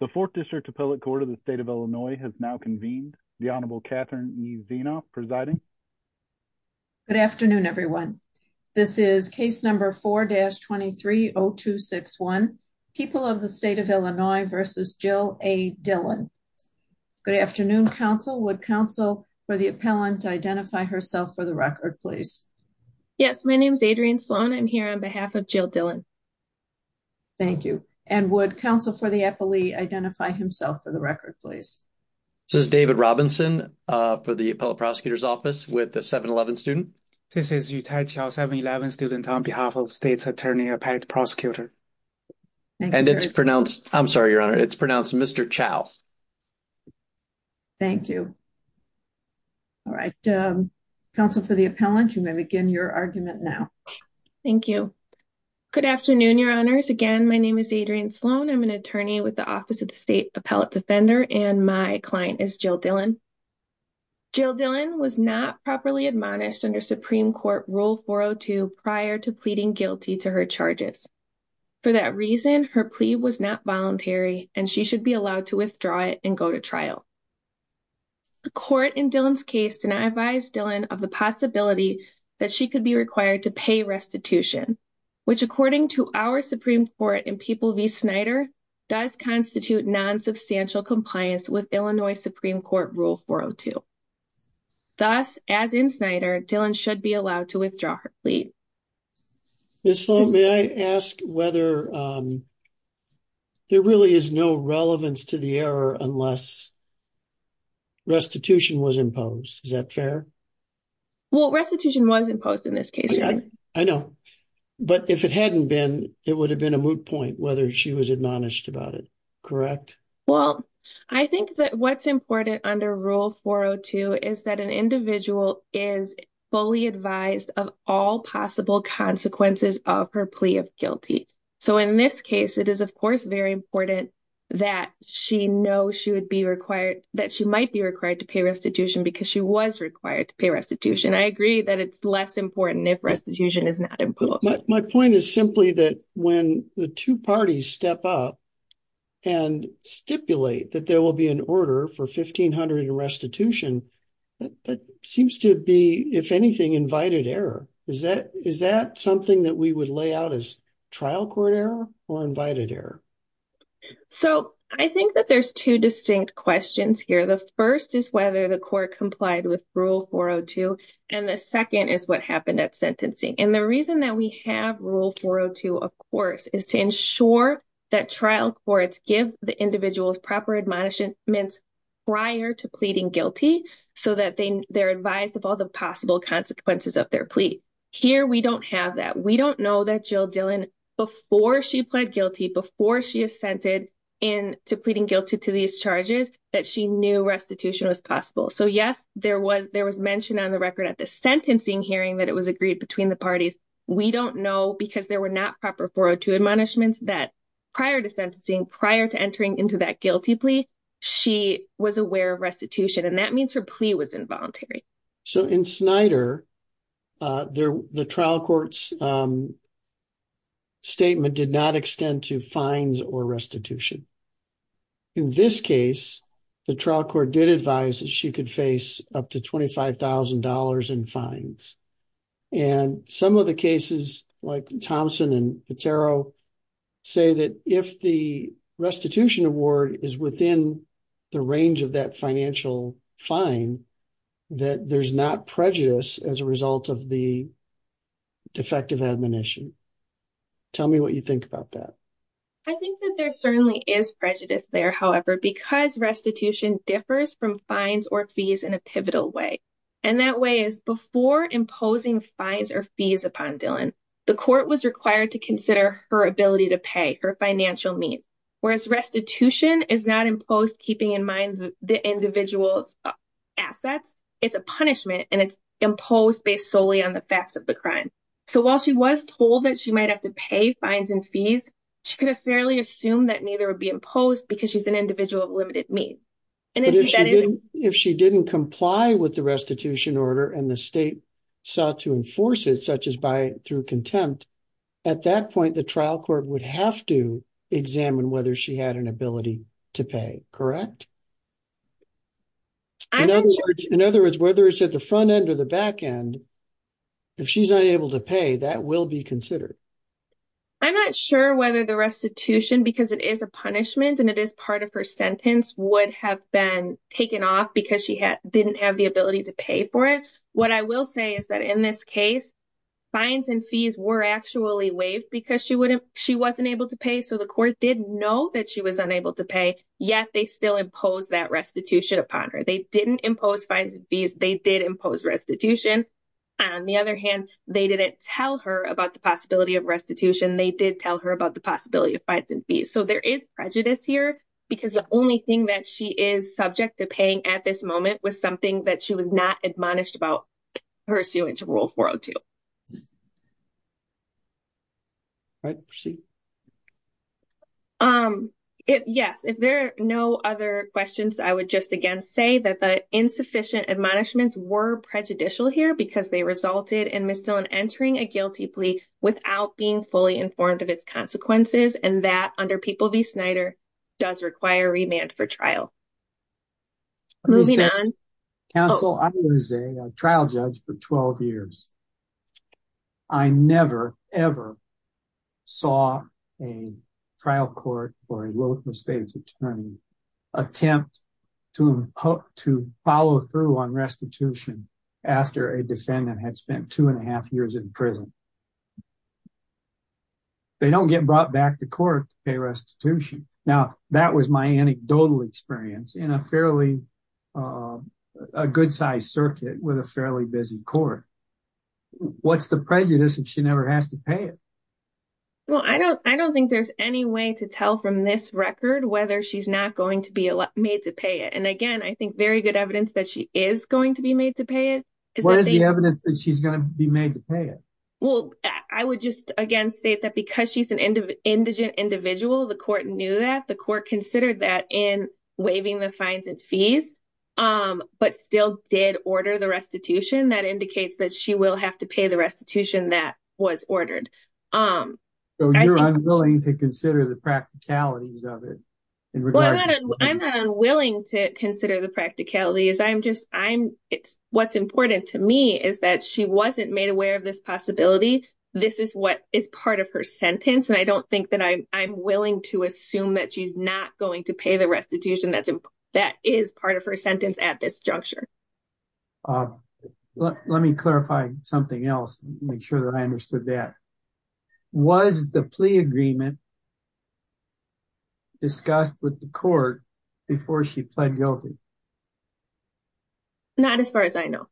The 4th District Appellate Court of the State of Illinois has now convened. The Honorable Catherine E. Zienoff presiding. Good afternoon everyone. This is case number 4-230261, People of the State of Illinois v. Jill A. Dillon. Good afternoon, counsel. Would counsel for the appellant identify herself for the record, please? Yes, my name is Adrienne Sloan. I'm here on behalf of Jill Dillon. Thank you. And would counsel for the appellate identify himself for the record, please? This is David Robinson for the Appellate Prosecutor's Office with the 7-11 student. This is Yutai Chou, 7-11 student on behalf of State's Attorney Appellate Prosecutor. And it's pronounced, I'm sorry, Your Honor, it's pronounced Mr. Chou. Thank you. All right. Counsel for the appellant, you may begin your argument now. Thank you. Good afternoon, Your Honors. Again, my name is Adrienne Sloan. I'm an attorney with the Office of the State Appellate Defender and my client is Jill Dillon. Jill Dillon was not properly admonished under Supreme Court Rule 402 prior to pleading guilty to her charges. For that reason, her plea was not voluntary and she should be allowed to withdraw it and go to trial. The court in Dillon's case did not advise Dillon of the possibility that she could be restitution, which according to our Supreme Court and People v. Snyder does constitute non-substantial compliance with Illinois Supreme Court Rule 402. Thus, as in Snyder, Dillon should be allowed to withdraw her plea. Ms. Sloan, may I ask whether there really is no relevance to the error unless restitution was imposed. Is that fair? Well, restitution was but if it hadn't been, it would have been a moot point whether she was admonished about it, correct? Well, I think that what's important under Rule 402 is that an individual is fully advised of all possible consequences of her plea of guilty. So, in this case, it is, of course, very important that she know she would be required, that she might be required to pay restitution because she was required to pay restitution. I agree that it's less important if restitution is not imposed. My point is simply that when the two parties step up and stipulate that there will be an order for 1500 in restitution, that seems to be, if anything, invited error. Is that something that we would lay out as trial court error or invited error? So, I think that there's two with Rule 402 and the second is what happened at sentencing. And the reason that we have Rule 402, of course, is to ensure that trial courts give the individuals proper admonishments prior to pleading guilty so that they're advised of all the possible consequences of their plea. Here, we don't have that. We don't know that Jill Dillon, before she pled guilty, before she assented into pleading guilty to these charges, that she knew restitution was possible. So, yes, there was mention on the record at the sentencing hearing that it was agreed between the parties. We don't know because there were not proper 402 admonishments that prior to sentencing, prior to entering into that guilty plea, she was aware of restitution and that means her plea was involuntary. So, in Snyder, the trial court's statement did not extend to fines or restitution. In this case, the trial court did advise that she could face up to $25,000 in fines. And some of the cases, like Thompson and Patero, say that if the restitution award is within the range of that financial fine, that there's not prejudice as a result of the defective admonition. Tell me what you think about that. I think that there certainly is prejudice there, however, because restitution differs from fines or fees in a pivotal way. And that way is before imposing fines or fees upon Dillon, the court was required to consider her ability to pay, her financial means. Whereas restitution is not imposed keeping in mind the individual's assets. It's a punishment and it's imposed based solely on the facts of the crime. So, while she was told that she might have to pay fines and fees, she could have fairly assumed that neither would be imposed because she's an individual of limited means. But if she didn't comply with the restitution order and the state sought to enforce it, such as by through contempt, at that point, the trial court would have to examine whether she had an ability to pay, correct? In other words, whether it's at the front end or the back end, if she's unable to pay, that will be considered. I'm not sure whether the restitution, because it is a punishment and it is part of her sentence, would have been taken off because she didn't have the ability to pay for it. What I will say is that in this case, fines and fees were actually waived because she wasn't able to pay. So, the court did know that she was unable to pay, yet they still impose that restitution upon her. They didn't impose fines and fees. They did impose restitution. On the other hand, they didn't tell her about the possibility of restitution. They did tell her about the possibility of fines and fees. So, there is prejudice here because the only thing that she is subject to paying at this moment was something that she was not admonished about pursuant to Rule 402. All right. Proceed. Yes. If there are no other questions, I would just again say that the insufficient admonishments were prejudicial here because they resulted in Ms. Dillon entering a guilty plea without being fully informed of its consequences and that, under People v. Snyder, does require remand for trial. Moving on. Counsel, I was a trial judge for 12 years. I never, ever saw a trial court or a local state's attorney attempt to follow through on restitution after a defendant had spent two and a half years in prison. They don't get brought back to court to pay restitution. Now, that was my anecdotal experience in a fairly good-sized circuit with a fairly busy court. What's the prejudice if she never has to pay it? Well, I don't think there's any way to tell from this record whether she's not going to be made to pay it. And again, I think very good evidence that she is going to be made to pay it. What is the evidence that she's going to be made to pay it? Well, I would just again state that because she's an indigent individual, the court knew that. The court considered that in waiving the fines and fees, but still did order the restitution. That indicates that she will have to pay the restitution that was ordered. So you're unwilling to consider the practicalities of it? I'm not unwilling to consider the practicalities. What's important to me is that she wasn't made aware of this possibility. This is what is part of her sentence. And I don't going to pay the restitution that is part of her sentence at this juncture. Let me clarify something else to make sure that I understood that. Was the plea agreement discussed with the court before she pled guilty? Not as far as I know.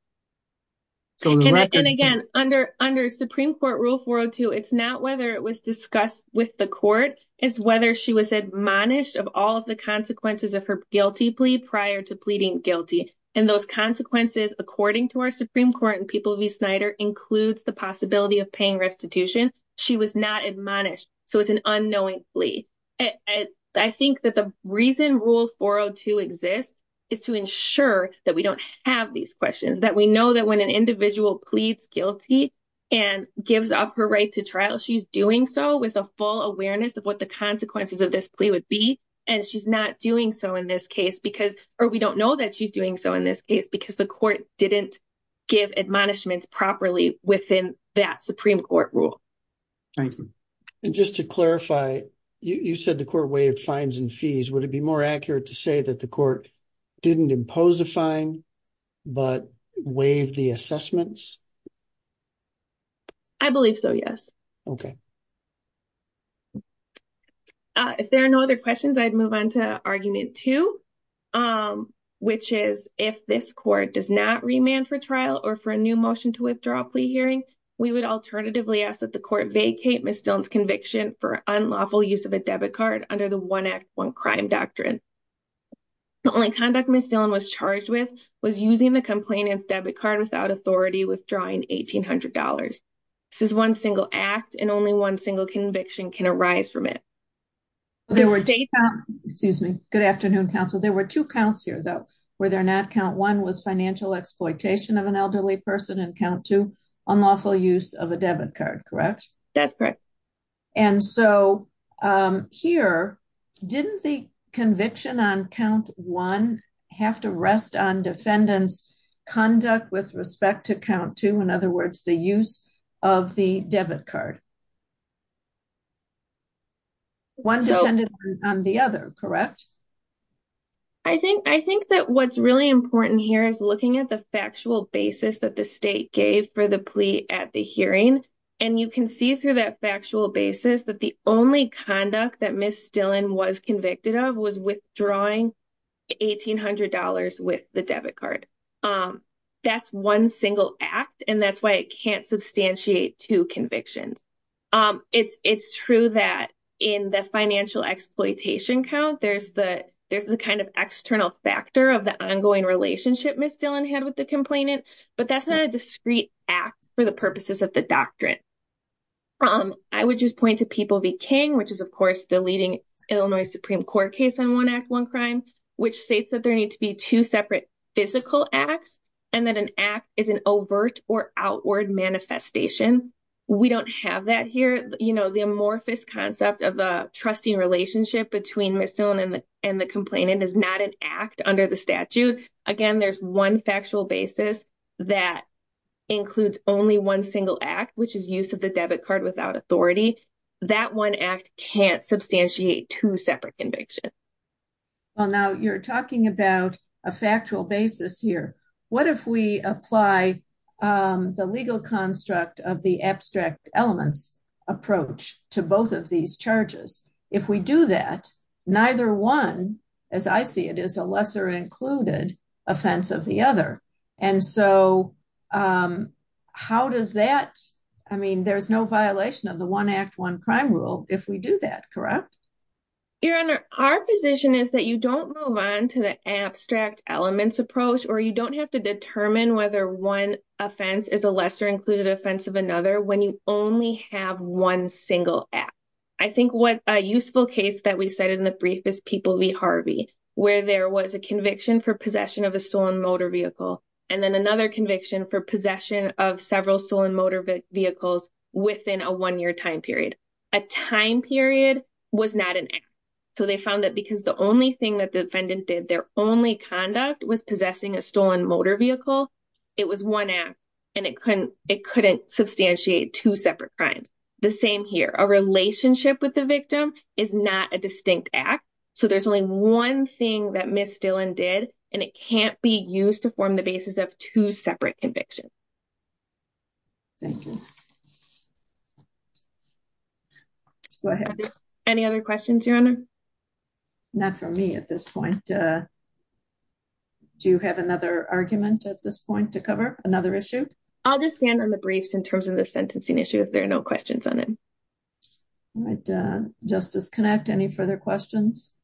And again, under Supreme Court Rule 402, it's not whether it was discussed with the court. It's whether she was admonished of all of the consequences of her guilty plea prior to pleading guilty. And those consequences, according to our Supreme Court and People v. Snyder, includes the possibility of paying restitution. She was not admonished. So it's an unknowing plea. I think that the reason Rule 402 exists is to ensure that we don't have these questions, that we know that when an individual pleads guilty and gives up her right to trial, she's doing so with a full awareness of what the consequences of this plea would be. And she's not doing so in this case because, or we don't know that she's doing so in this case, because the court didn't give admonishments properly within that Supreme Court rule. Nice. And just to clarify, you said the court waived fines and fees. Would it be more accurate to say that the court didn't impose a fine, but waived the assessments? I believe so, yes. Okay. If there are no other questions, I'd move on to argument two, which is if this court does not remand for trial or for a new motion to withdraw a plea hearing, we would alternatively ask that the court vacate Ms. Dillon's conviction for unlawful use of a debit card under the one-act-one-crime doctrine. The only conduct Ms. Dillon was charged with was using the complainant's authority, withdrawing $1,800. This is one single act and only one single conviction can arise from it. Excuse me. Good afternoon, counsel. There were two counts here though, were there not? Count one was financial exploitation of an elderly person and count two, unlawful use of a debit card, correct? That's correct. And so here, didn't the conviction on count one have to rest on defendant's conduct with respect to count two, in other words, the use of the debit card? One depended on the other, correct? I think that what's really important here is looking at the factual basis that the state gave for the plea at the hearing. And you can see through that factual basis that the only conduct that Ms. Dillon was convicted of was withdrawing $1,800 with the debit card. That's one single act and that's why it can't substantiate two convictions. It's true that in the financial exploitation count, there's the kind of external factor of the ongoing relationship Ms. Dillon had with the complainant, but that's not a discrete act for the purposes of the doctrine. I would just point to People v. King, which is, of course, the leading Illinois Supreme Court case on One Act, One Crime, which states that there need to be two separate physical acts and that an act is an overt or outward manifestation. We don't have that here. The amorphous concept of a trusting relationship between Ms. Dillon and the complainant is not an act under the statute. Again, there's one factual basis that includes only one single act, which is use of the debit card without authority. That one act can't substantiate two separate convictions. Well, now you're talking about a factual basis here. What if we apply the legal construct of the abstract elements approach to both of these charges? If we do that, neither one, as I see it, is a lesser included offense of the other. And so, how does that, I mean, there's no violation of the One Act, One Crime rule if we do that, correct? Your Honor, our position is that you don't move on to the abstract elements approach or you don't have to determine whether one offense is a lesser included offense of another when you only have one single act. I think what a useful case that we cited in the brief is People v. Harvey, where there was a conviction for possession of a stolen motor vehicle and then another conviction for possession of several stolen vehicles within a one-year time period. A time period was not an act. So, they found that because the only thing that the defendant did, their only conduct was possessing a stolen motor vehicle, it was one act and it couldn't substantiate two separate crimes. The same here. A relationship with the victim is not a distinct act. So, there's only one thing that Miss Dillon did and it can't be used to form the basis of two separate convictions. Thank you. Go ahead. Any other questions, Your Honor? Not for me at this point. Do you have another argument at this point to cover? Another issue? I'll just stand on the briefs in terms of the sentencing issue if there are no questions on it. All right. Justice Connacht, any further questions?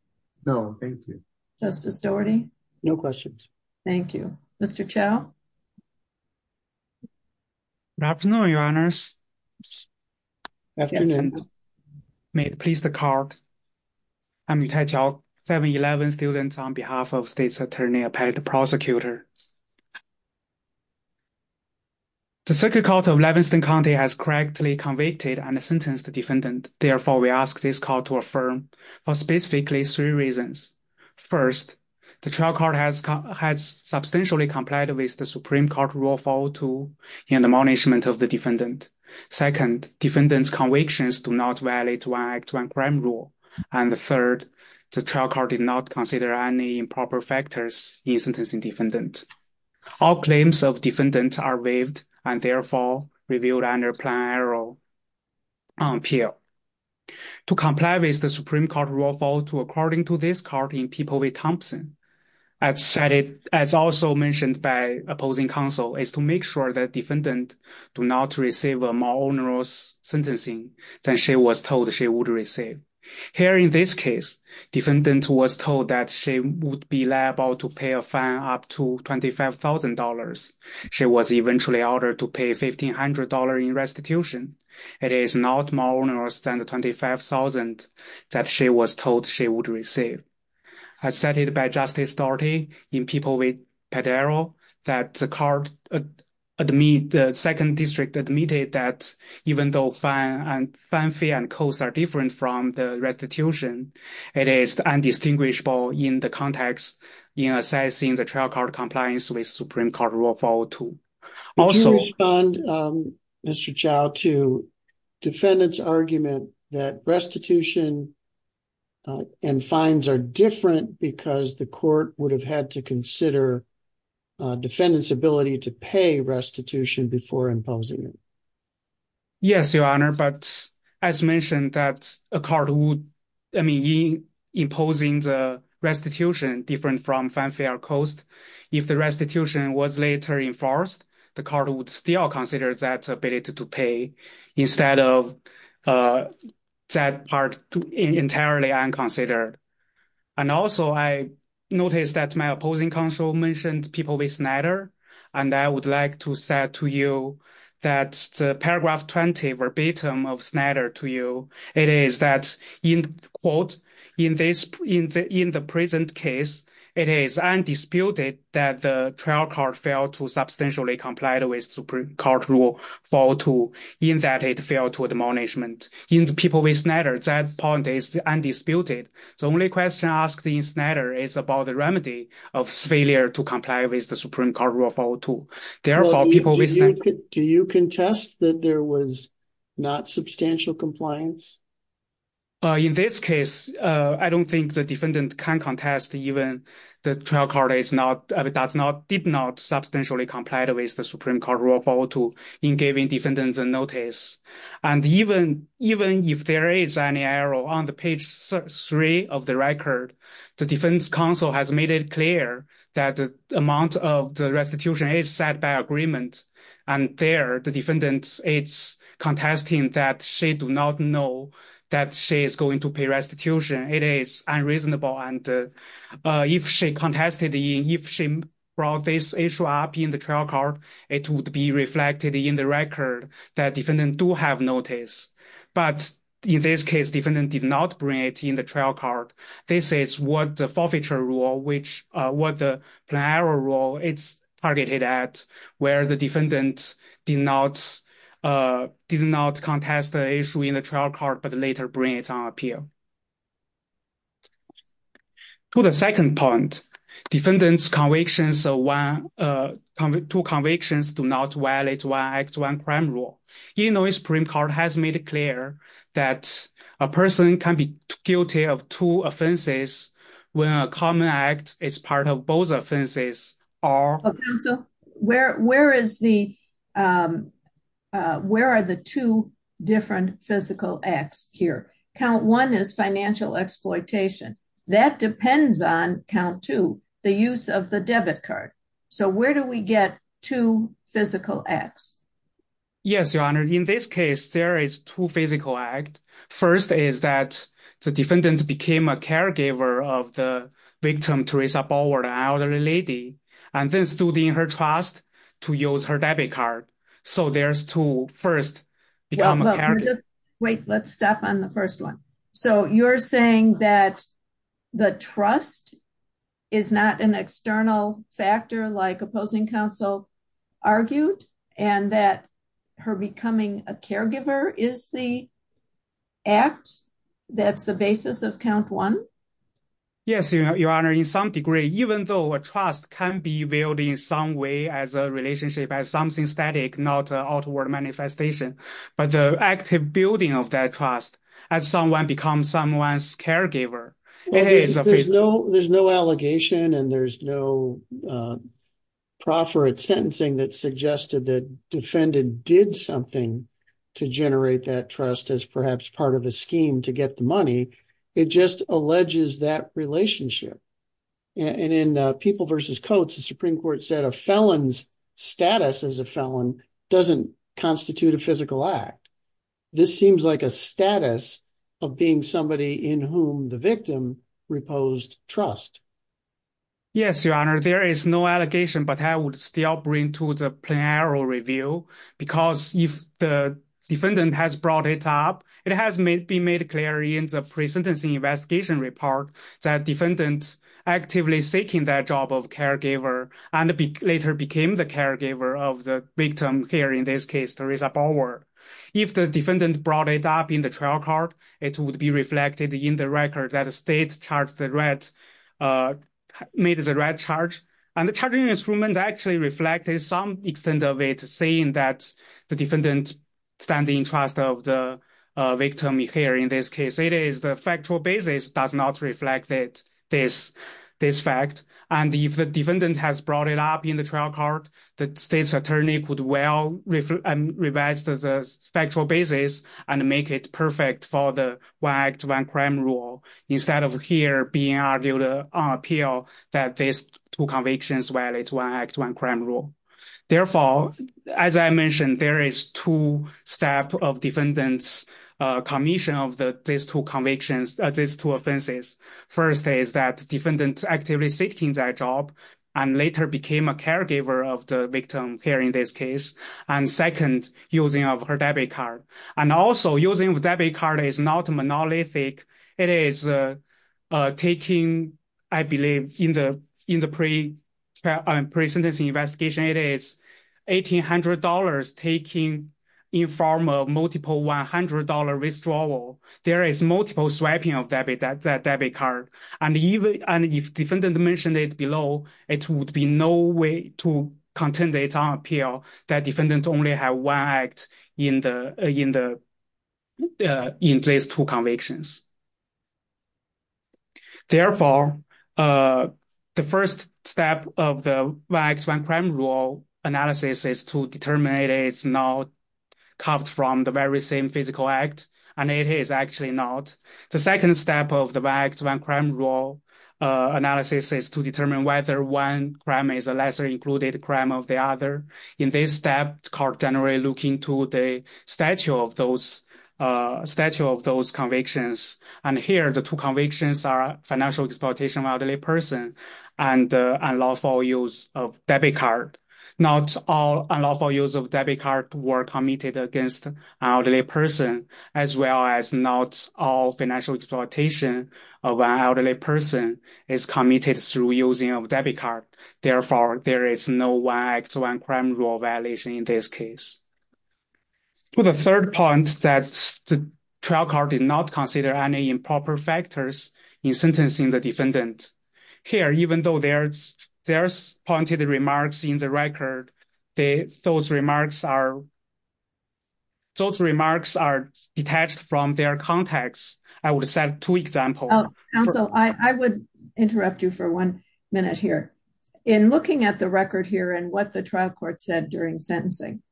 No, thank you. Justice Doherty? No questions. Thank you. Mr. Chow? Good afternoon, Your Honors. Good afternoon. May it please the Court. I'm Yutai Chow, 711 students on behalf of State's Attorney Appellate Prosecutor. The Circuit Court of Levenston County has correctly convicted and sentenced the defendant. Therefore, we ask this Court to affirm for specifically three reasons. First, the trial has substantially complied with the Supreme Court rule of order in the punishment of the defendant. Second, defendant's convictions do not violate one act, one crime rule. And the third, the trial court did not consider any improper factors in sentencing defendant. All claims of defendant are waived and therefore revealed under plan error appeal. To comply with the statute, as also mentioned by opposing counsel, is to make sure that defendant do not receive a more onerous sentencing than she was told she would receive. Here in this case, defendant was told that she would be liable to pay a fine up to $25,000. She was eventually ordered to pay $1,500 in restitution. It is not more onerous than the $25,000 that she was told she would receive. As cited by Justice Daugherty, in People v. Padaro, that the second district admitted that even though fine fee and cost are different from the restitution, it is indistinguishable in the context in assessing the trial court compliance with Supreme Court rule of and fines are different because the court would have had to consider defendant's ability to pay restitution before imposing it. Yes, Your Honor, but as mentioned that a court would, I mean, imposing the restitution different from fine fee or cost, if the restitution was later enforced, the court would still consider that ability to pay instead of that part entirely unconsidered. And also, I noticed that my opposing counsel mentioned People v. Snyder, and I would like to say to you that Paragraph 20 verbatim of Snyder to you, it is that in quote, in the present case, it is undisputed that the trial court failed to substantially comply with Supreme Court rule 402, in that it failed to admonishment. In People v. Snyder, that point is undisputed. So only question asked in Snyder is about the remedy of failure to comply with the Supreme Court rule 402. Therefore, People v. Snyder... Do you contest that there was not substantial compliance? In this case, I don't think the defendant can contest even the trial court did not substantially comply with the Supreme Court rule 402 in giving defendants a notice. And even if there is any error on the page three of the record, the defense counsel has made it clear that the amount of the restitution is set by agreement. And there, the defendant, it's contesting that she do not know that she is going to pay restitution. It is unreasonable. And if she contested, if she brought this issue up in the trial court, it would be reflected in the record that defendant do have notice. But in this case, defendant did not bring it in the trial court. This is what the forfeiture rule, what the plenary rule is targeted at, where the defendant did not contest the issue in the trial court, but later bring it on appeal. To the second point, defendant's convictions, two convictions do not violate one act, one crime rule. Even though the Supreme Court has made it clear that a person can be guilty of two offenses when a common act is part of both offenses are... Where are the two different physical acts here? Count one is financial exploitation. That depends on count two, the use of the debit card. So where do we get two physical acts? Yes, Your Honor. In this case, there is two physical act. First is that the defendant became a caregiver of the victim, Teresa Ballward, an elderly lady, and then stood in her trust to use her debit card. So there's two first... Wait, let's stop on the first one. So you're saying that the trust is not an external factor like opposing counsel argued, and that her Yes, Your Honor. In some degree, even though a trust can be built in some way as a relationship, as something static, not outward manifestation, but the active building of that trust, as someone becomes someone's caregiver. There's no allegation and there's no proffer at sentencing that suggested that defendant did something to generate that trust as perhaps part of a scheme to get the money. It just alleges that relationship. And in People versus Coats, the Supreme Court said a felon's status as a felon doesn't constitute a physical act. This seems like a status of being somebody in whom the victim reposed trust. Yes, Your Honor. There is no allegation, but I would still bring to the plain error review, because if the defendant has brought it up, it has been made clear in the pre-sentencing investigation report that defendants actively seeking that job of caregiver and later became the caregiver of the victim here in this case, Teresa Bauer. If the defendant brought it up in the trial court, it would be reflected in the record that the state made the right charge. And the charging instrument actually reflected some extent of it, saying that the defendant stands in trust of the victim here in this case. It is the factual basis that does not reflect this fact. And if the defendant has brought it up in the trial court, the state's attorney could well revise the factual basis and make it perfect for the one act, one crime rule, instead of here being argued on appeal that these two convictions violate one act, one crime rule. Therefore, as I mentioned, there is two steps of defendant's commission of these two offenses. First is that defendant actively seeking that job and later became a caregiver of the victim here in this case. And second, using of her debit card. And also using of debit card is not monolithic. It is taking, I believe, in the pre-sentencing investigation, it is $1,800 taking in form of multiple $100 withdrawal. There is multiple swiping of that debit card. And if defendant mentioned it below, it would be no way to contend that it's on appeal that defendant only have one act in these two convictions. Therefore, the first step of the one act, one crime rule analysis is to determine it's not carved from the very same physical act. And it is actually not. The second step of the one act, one crime rule analysis is to determine whether one crime is a lesser crime of the other. In this step, court generally looking to the statue of those convictions. And here the two convictions are financial exploitation of elderly person and unlawful use of debit card. Not all unlawful use of debit card were committed against an elderly person, as well as not all financial exploitation of an elderly person is committed through using debit card. Therefore, there is no one act, one crime rule violation in this case. The third point that the trial card did not consider any improper factors in sentencing the defendant. Here, even though there's pointed remarks in the record, those remarks are detached from their context. I would set two examples. Counsel, I would interrupt you for one minute here. In looking at the record here and what the trial court said during sentencing.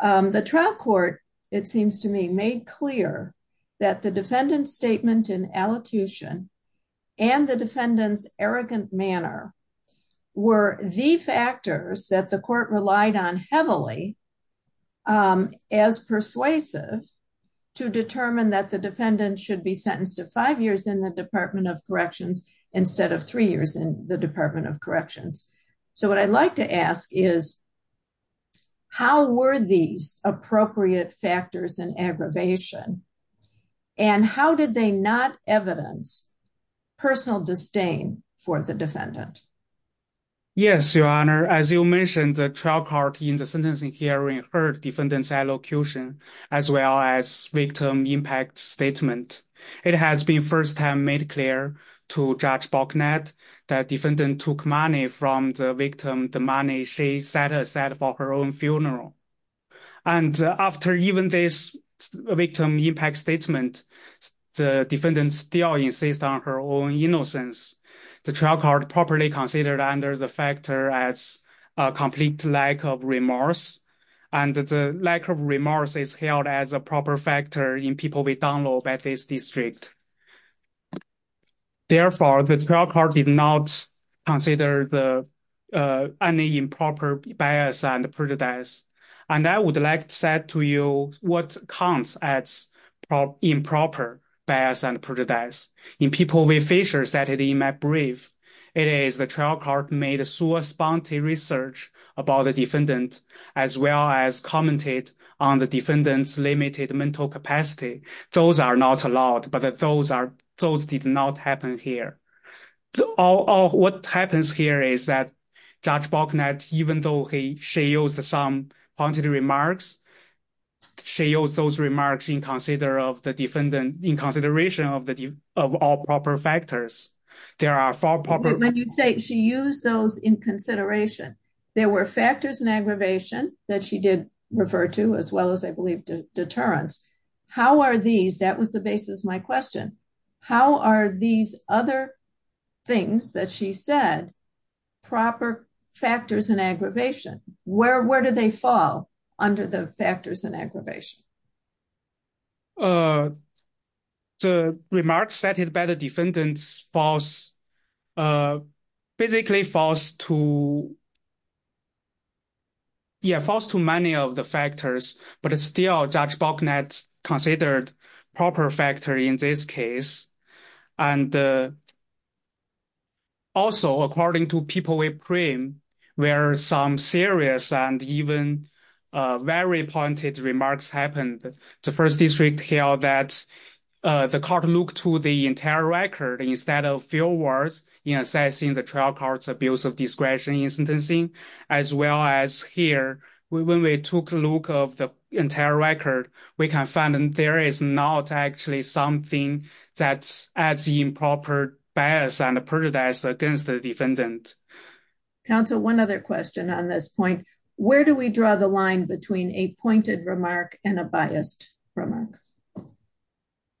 The trial court, it seems to me made clear that the defendant statement in allocution, and the defendants arrogant manner, were the factors that the court relied on heavily as persuasive to determine that the defendant should be sentenced to five years in the Department of Corrections instead of three years in the Department of Corrections. So what I'd like to ask is, how were these appropriate factors and aggravation? And how did they not evidence personal disdain for the defendant? Yes, Your Honor, as you mentioned, the trial court in the sentencing hearing heard defendants allocution, as well as victim impact statement. It has been first time made clear to Judge Boknet that defendant took money from the victim, the money she set aside for her own funeral. And after even this victim impact statement, the defendant still insists on her own innocence. The trial court properly considered under the factor as a complete lack of remorse. And the lack of remorse is held as a proper factor in people we download by this district. Therefore, the trial court did not consider the any improper bias and prejudice. And I would like to say to you what counts as improper bias and prejudice. In people we Fisher said in my brief, it is the trial court made a source bounty research about the defendant, as well as commented on the defendant's limited mental capacity. Those are not allowed, but those did not happen here. What happens here is that Judge Boknet, even though she used some pointed remarks, she used those remarks in consideration of all proper factors. When you say she used those in consideration, there were factors in aggravation that she did refer to, as well as I believe deterrence. How are these, that was the basis of my question, how are these other things that she said, proper factors in aggravation? Where do they fall under the factors in aggravation? The remarks cited by the defendants falls, basically falls to many of the factors, but it's still Judge Boknet's considered proper factor in this case. And also according to people we frame, where some serious and even very pointed remarks happened, the first district held that the court looked to the entire record instead of field words in assessing the trial court's abuse of discretion in sentencing. As well as here, when we took a look of the entire record, we can find that there is not actually something that's as improper bias and prejudice against the defendant. Counsel, one other question on this point, where do we draw the line between a pointed remark and a biased remark?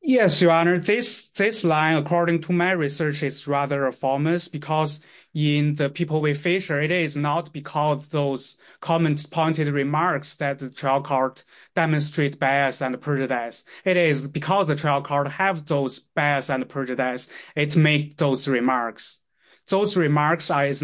Yes, Your Honor, this line, according to my research, is rather formless because in the people with Fisher, it is not because those comments pointed remarks that the trial court demonstrate bias and prejudice. It is because the trial court have those bias and prejudice, it make those remarks. Those remarks should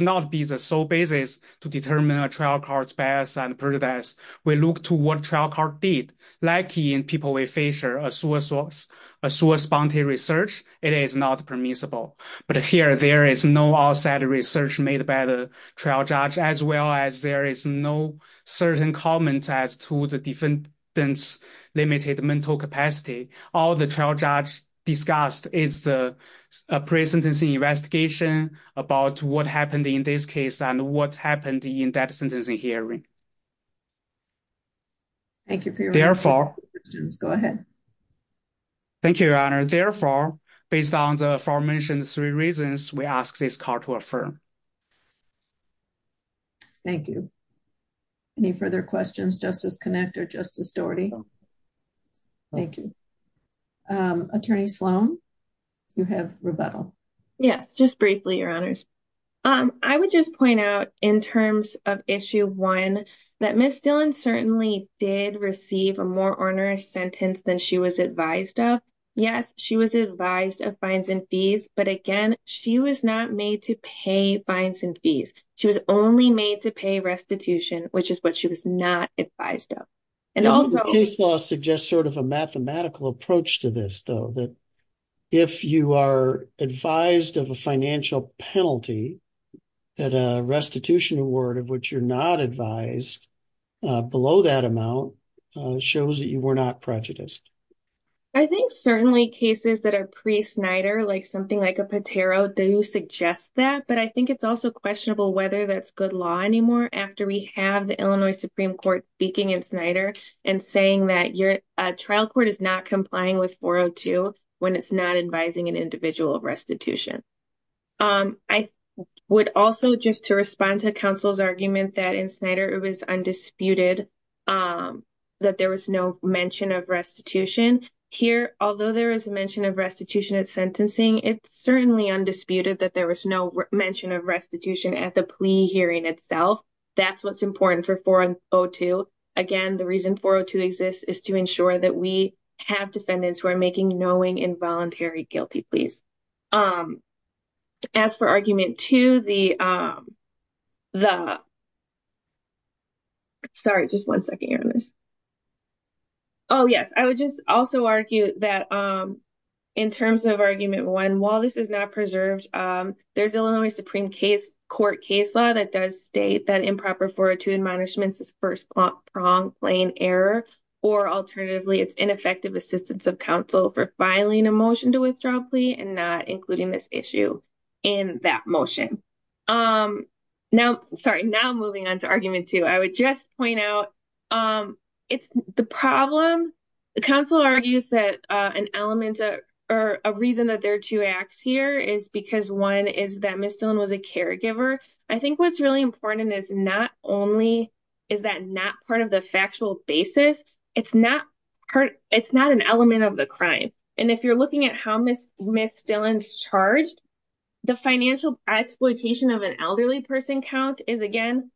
not be the sole basis to determine a trial court's bias and prejudice. We look to what trial court did, like in people with Fisher, a source bounty research, it is not permissible. But here, there is no outside research made by the trial judge, as well as there is no certain comments as to the defendant's limited mental capacity. All the trial judge discussed is the pre-sentencing investigation about what happened in this case and what happened in that sentencing hearing. Thank you for your answer. Therefore, thank you, Your Honor. Therefore, based on the aforementioned three reasons, we ask this court to affirm. Thank you. Any further questions, Justice Connick or Justice Doherty? Thank you. Attorney Sloan, you have rebuttal. Yes, just briefly, Your Honors. I would just point out in terms of issue one, that Ms. Dillon certainly did receive a more onerous sentence than she was advised of. Yes, she was advised of fines and fees, but again, she was not made to pay fines and fees. She was only made to pay restitution, which is what she was not advised of. The case law suggests sort of a mathematical approach to this, though, that if you are of which you're not advised below that amount, it shows that you were not prejudiced. I think certainly cases that are pre-Snyder, like something like a Patero, do suggest that, but I think it's also questionable whether that's good law anymore after we have the Illinois Supreme Court speaking in Snyder and saying that your trial court is not complying with 402 when it's not advising an individual of restitution. I would also just to respond to counsel's argument that in Snyder it was undisputed that there was no mention of restitution. Here, although there is a mention of restitution at sentencing, it's certainly undisputed that there was no mention of restitution at the plea hearing itself. That's what's important for 402. Again, the reason 402 exists is to ensure that we have defendants who are making knowing involuntary guilty pleas. As for argument two, in terms of argument one, while this is not preserved, there's Illinois Supreme Court case law that does state that improper 402 admonishments is first pronged plain error or alternatively it's ineffective assistance of counsel for filing a motion to withdraw a plea and not including this issue in that motion. Now moving on to argument two, I would just point out the problem, counsel argues that an element or a reason that there are two acts here is because one is that Ms. Dillon was a caregiver. I think what's really important is not only it's not an element of the crime. If you're looking at how Ms. Dillon's charged, the financial exploitation of an elderly person count is again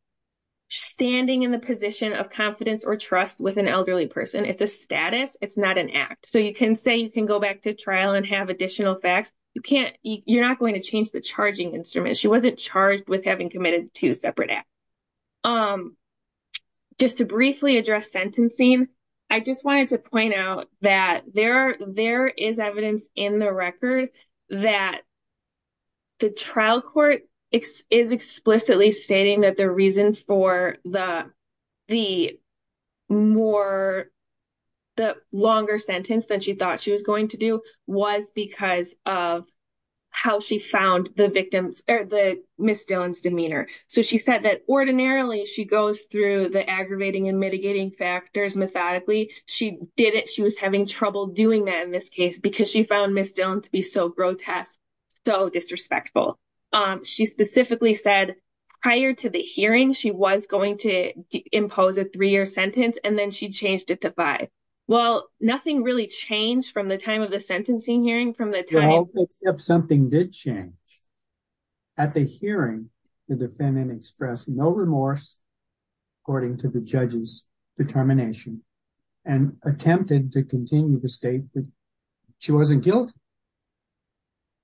standing in the position of confidence or trust with an elderly person. It's a status. It's not an act. You can say you can go back to trial and have additional facts. You're not going to change the charging instrument. She just wanted to point out that there is evidence in the record that the trial court is explicitly stating that the reason for the longer sentence that she thought she was going to do was because of how she found the victims or the Ms. Dillon's demeanor. So she said that ordinarily she goes through the aggravating and mitigating factors methodically. She didn't. She was having trouble doing that in this case because she found Ms. Dillon to be so grotesque, so disrespectful. She specifically said prior to the hearing, she was going to impose a three-year sentence, and then she changed it to five. Well, nothing really changed from the time of the sentencing hearing from the time. Except something did change. At the hearing, the defendant expressed no remorse according to the judge's determination and attempted to continue to state that she wasn't guilty.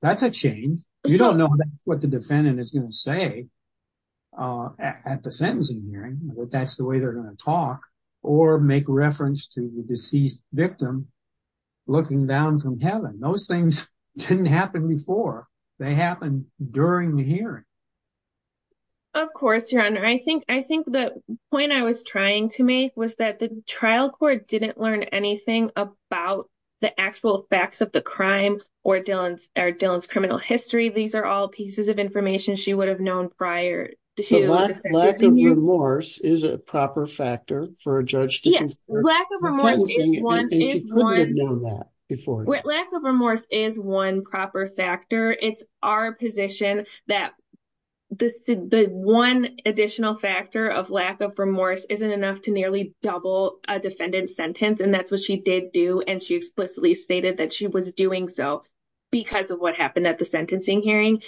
That's a change. You don't know what the defendant is going to say at the sentencing hearing, but that's the way they're going to talk or make reference to the deceased victim looking down from heaven. Those things didn't happen before. They happened during the hearing. Of course, Your Honor. I think the point I was trying to make was that the trial court didn't learn anything about the actual facts of the crime or Dillon's criminal history. These are all pieces of information she would have known prior to the sentencing hearing. Lack of remorse is a proper factor for a judge. Yes. Lack of remorse is one proper factor. It's our position that the one additional factor of lack of remorse isn't enough to nearly double a defendant's sentence, and that's what she did do, and she explicitly stated that she was doing so because of what happened at the sentencing hearing.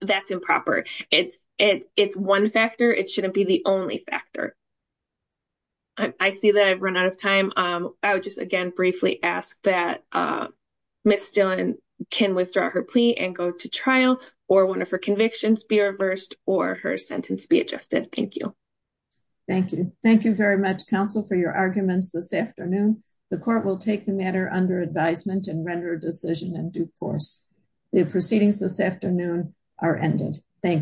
That's improper. It's one factor. It shouldn't be the only factor. I see that I've run out of time. I would just again briefly ask that Ms. Dillon can withdraw her plea and go to trial or one of her convictions be reversed or her sentence be adjusted. Thank you. Thank you. Thank you very much, counsel, for your arguments this afternoon. The court will take the matter under advisement and render a decision in due course. The proceedings this afternoon are ended. Thank you.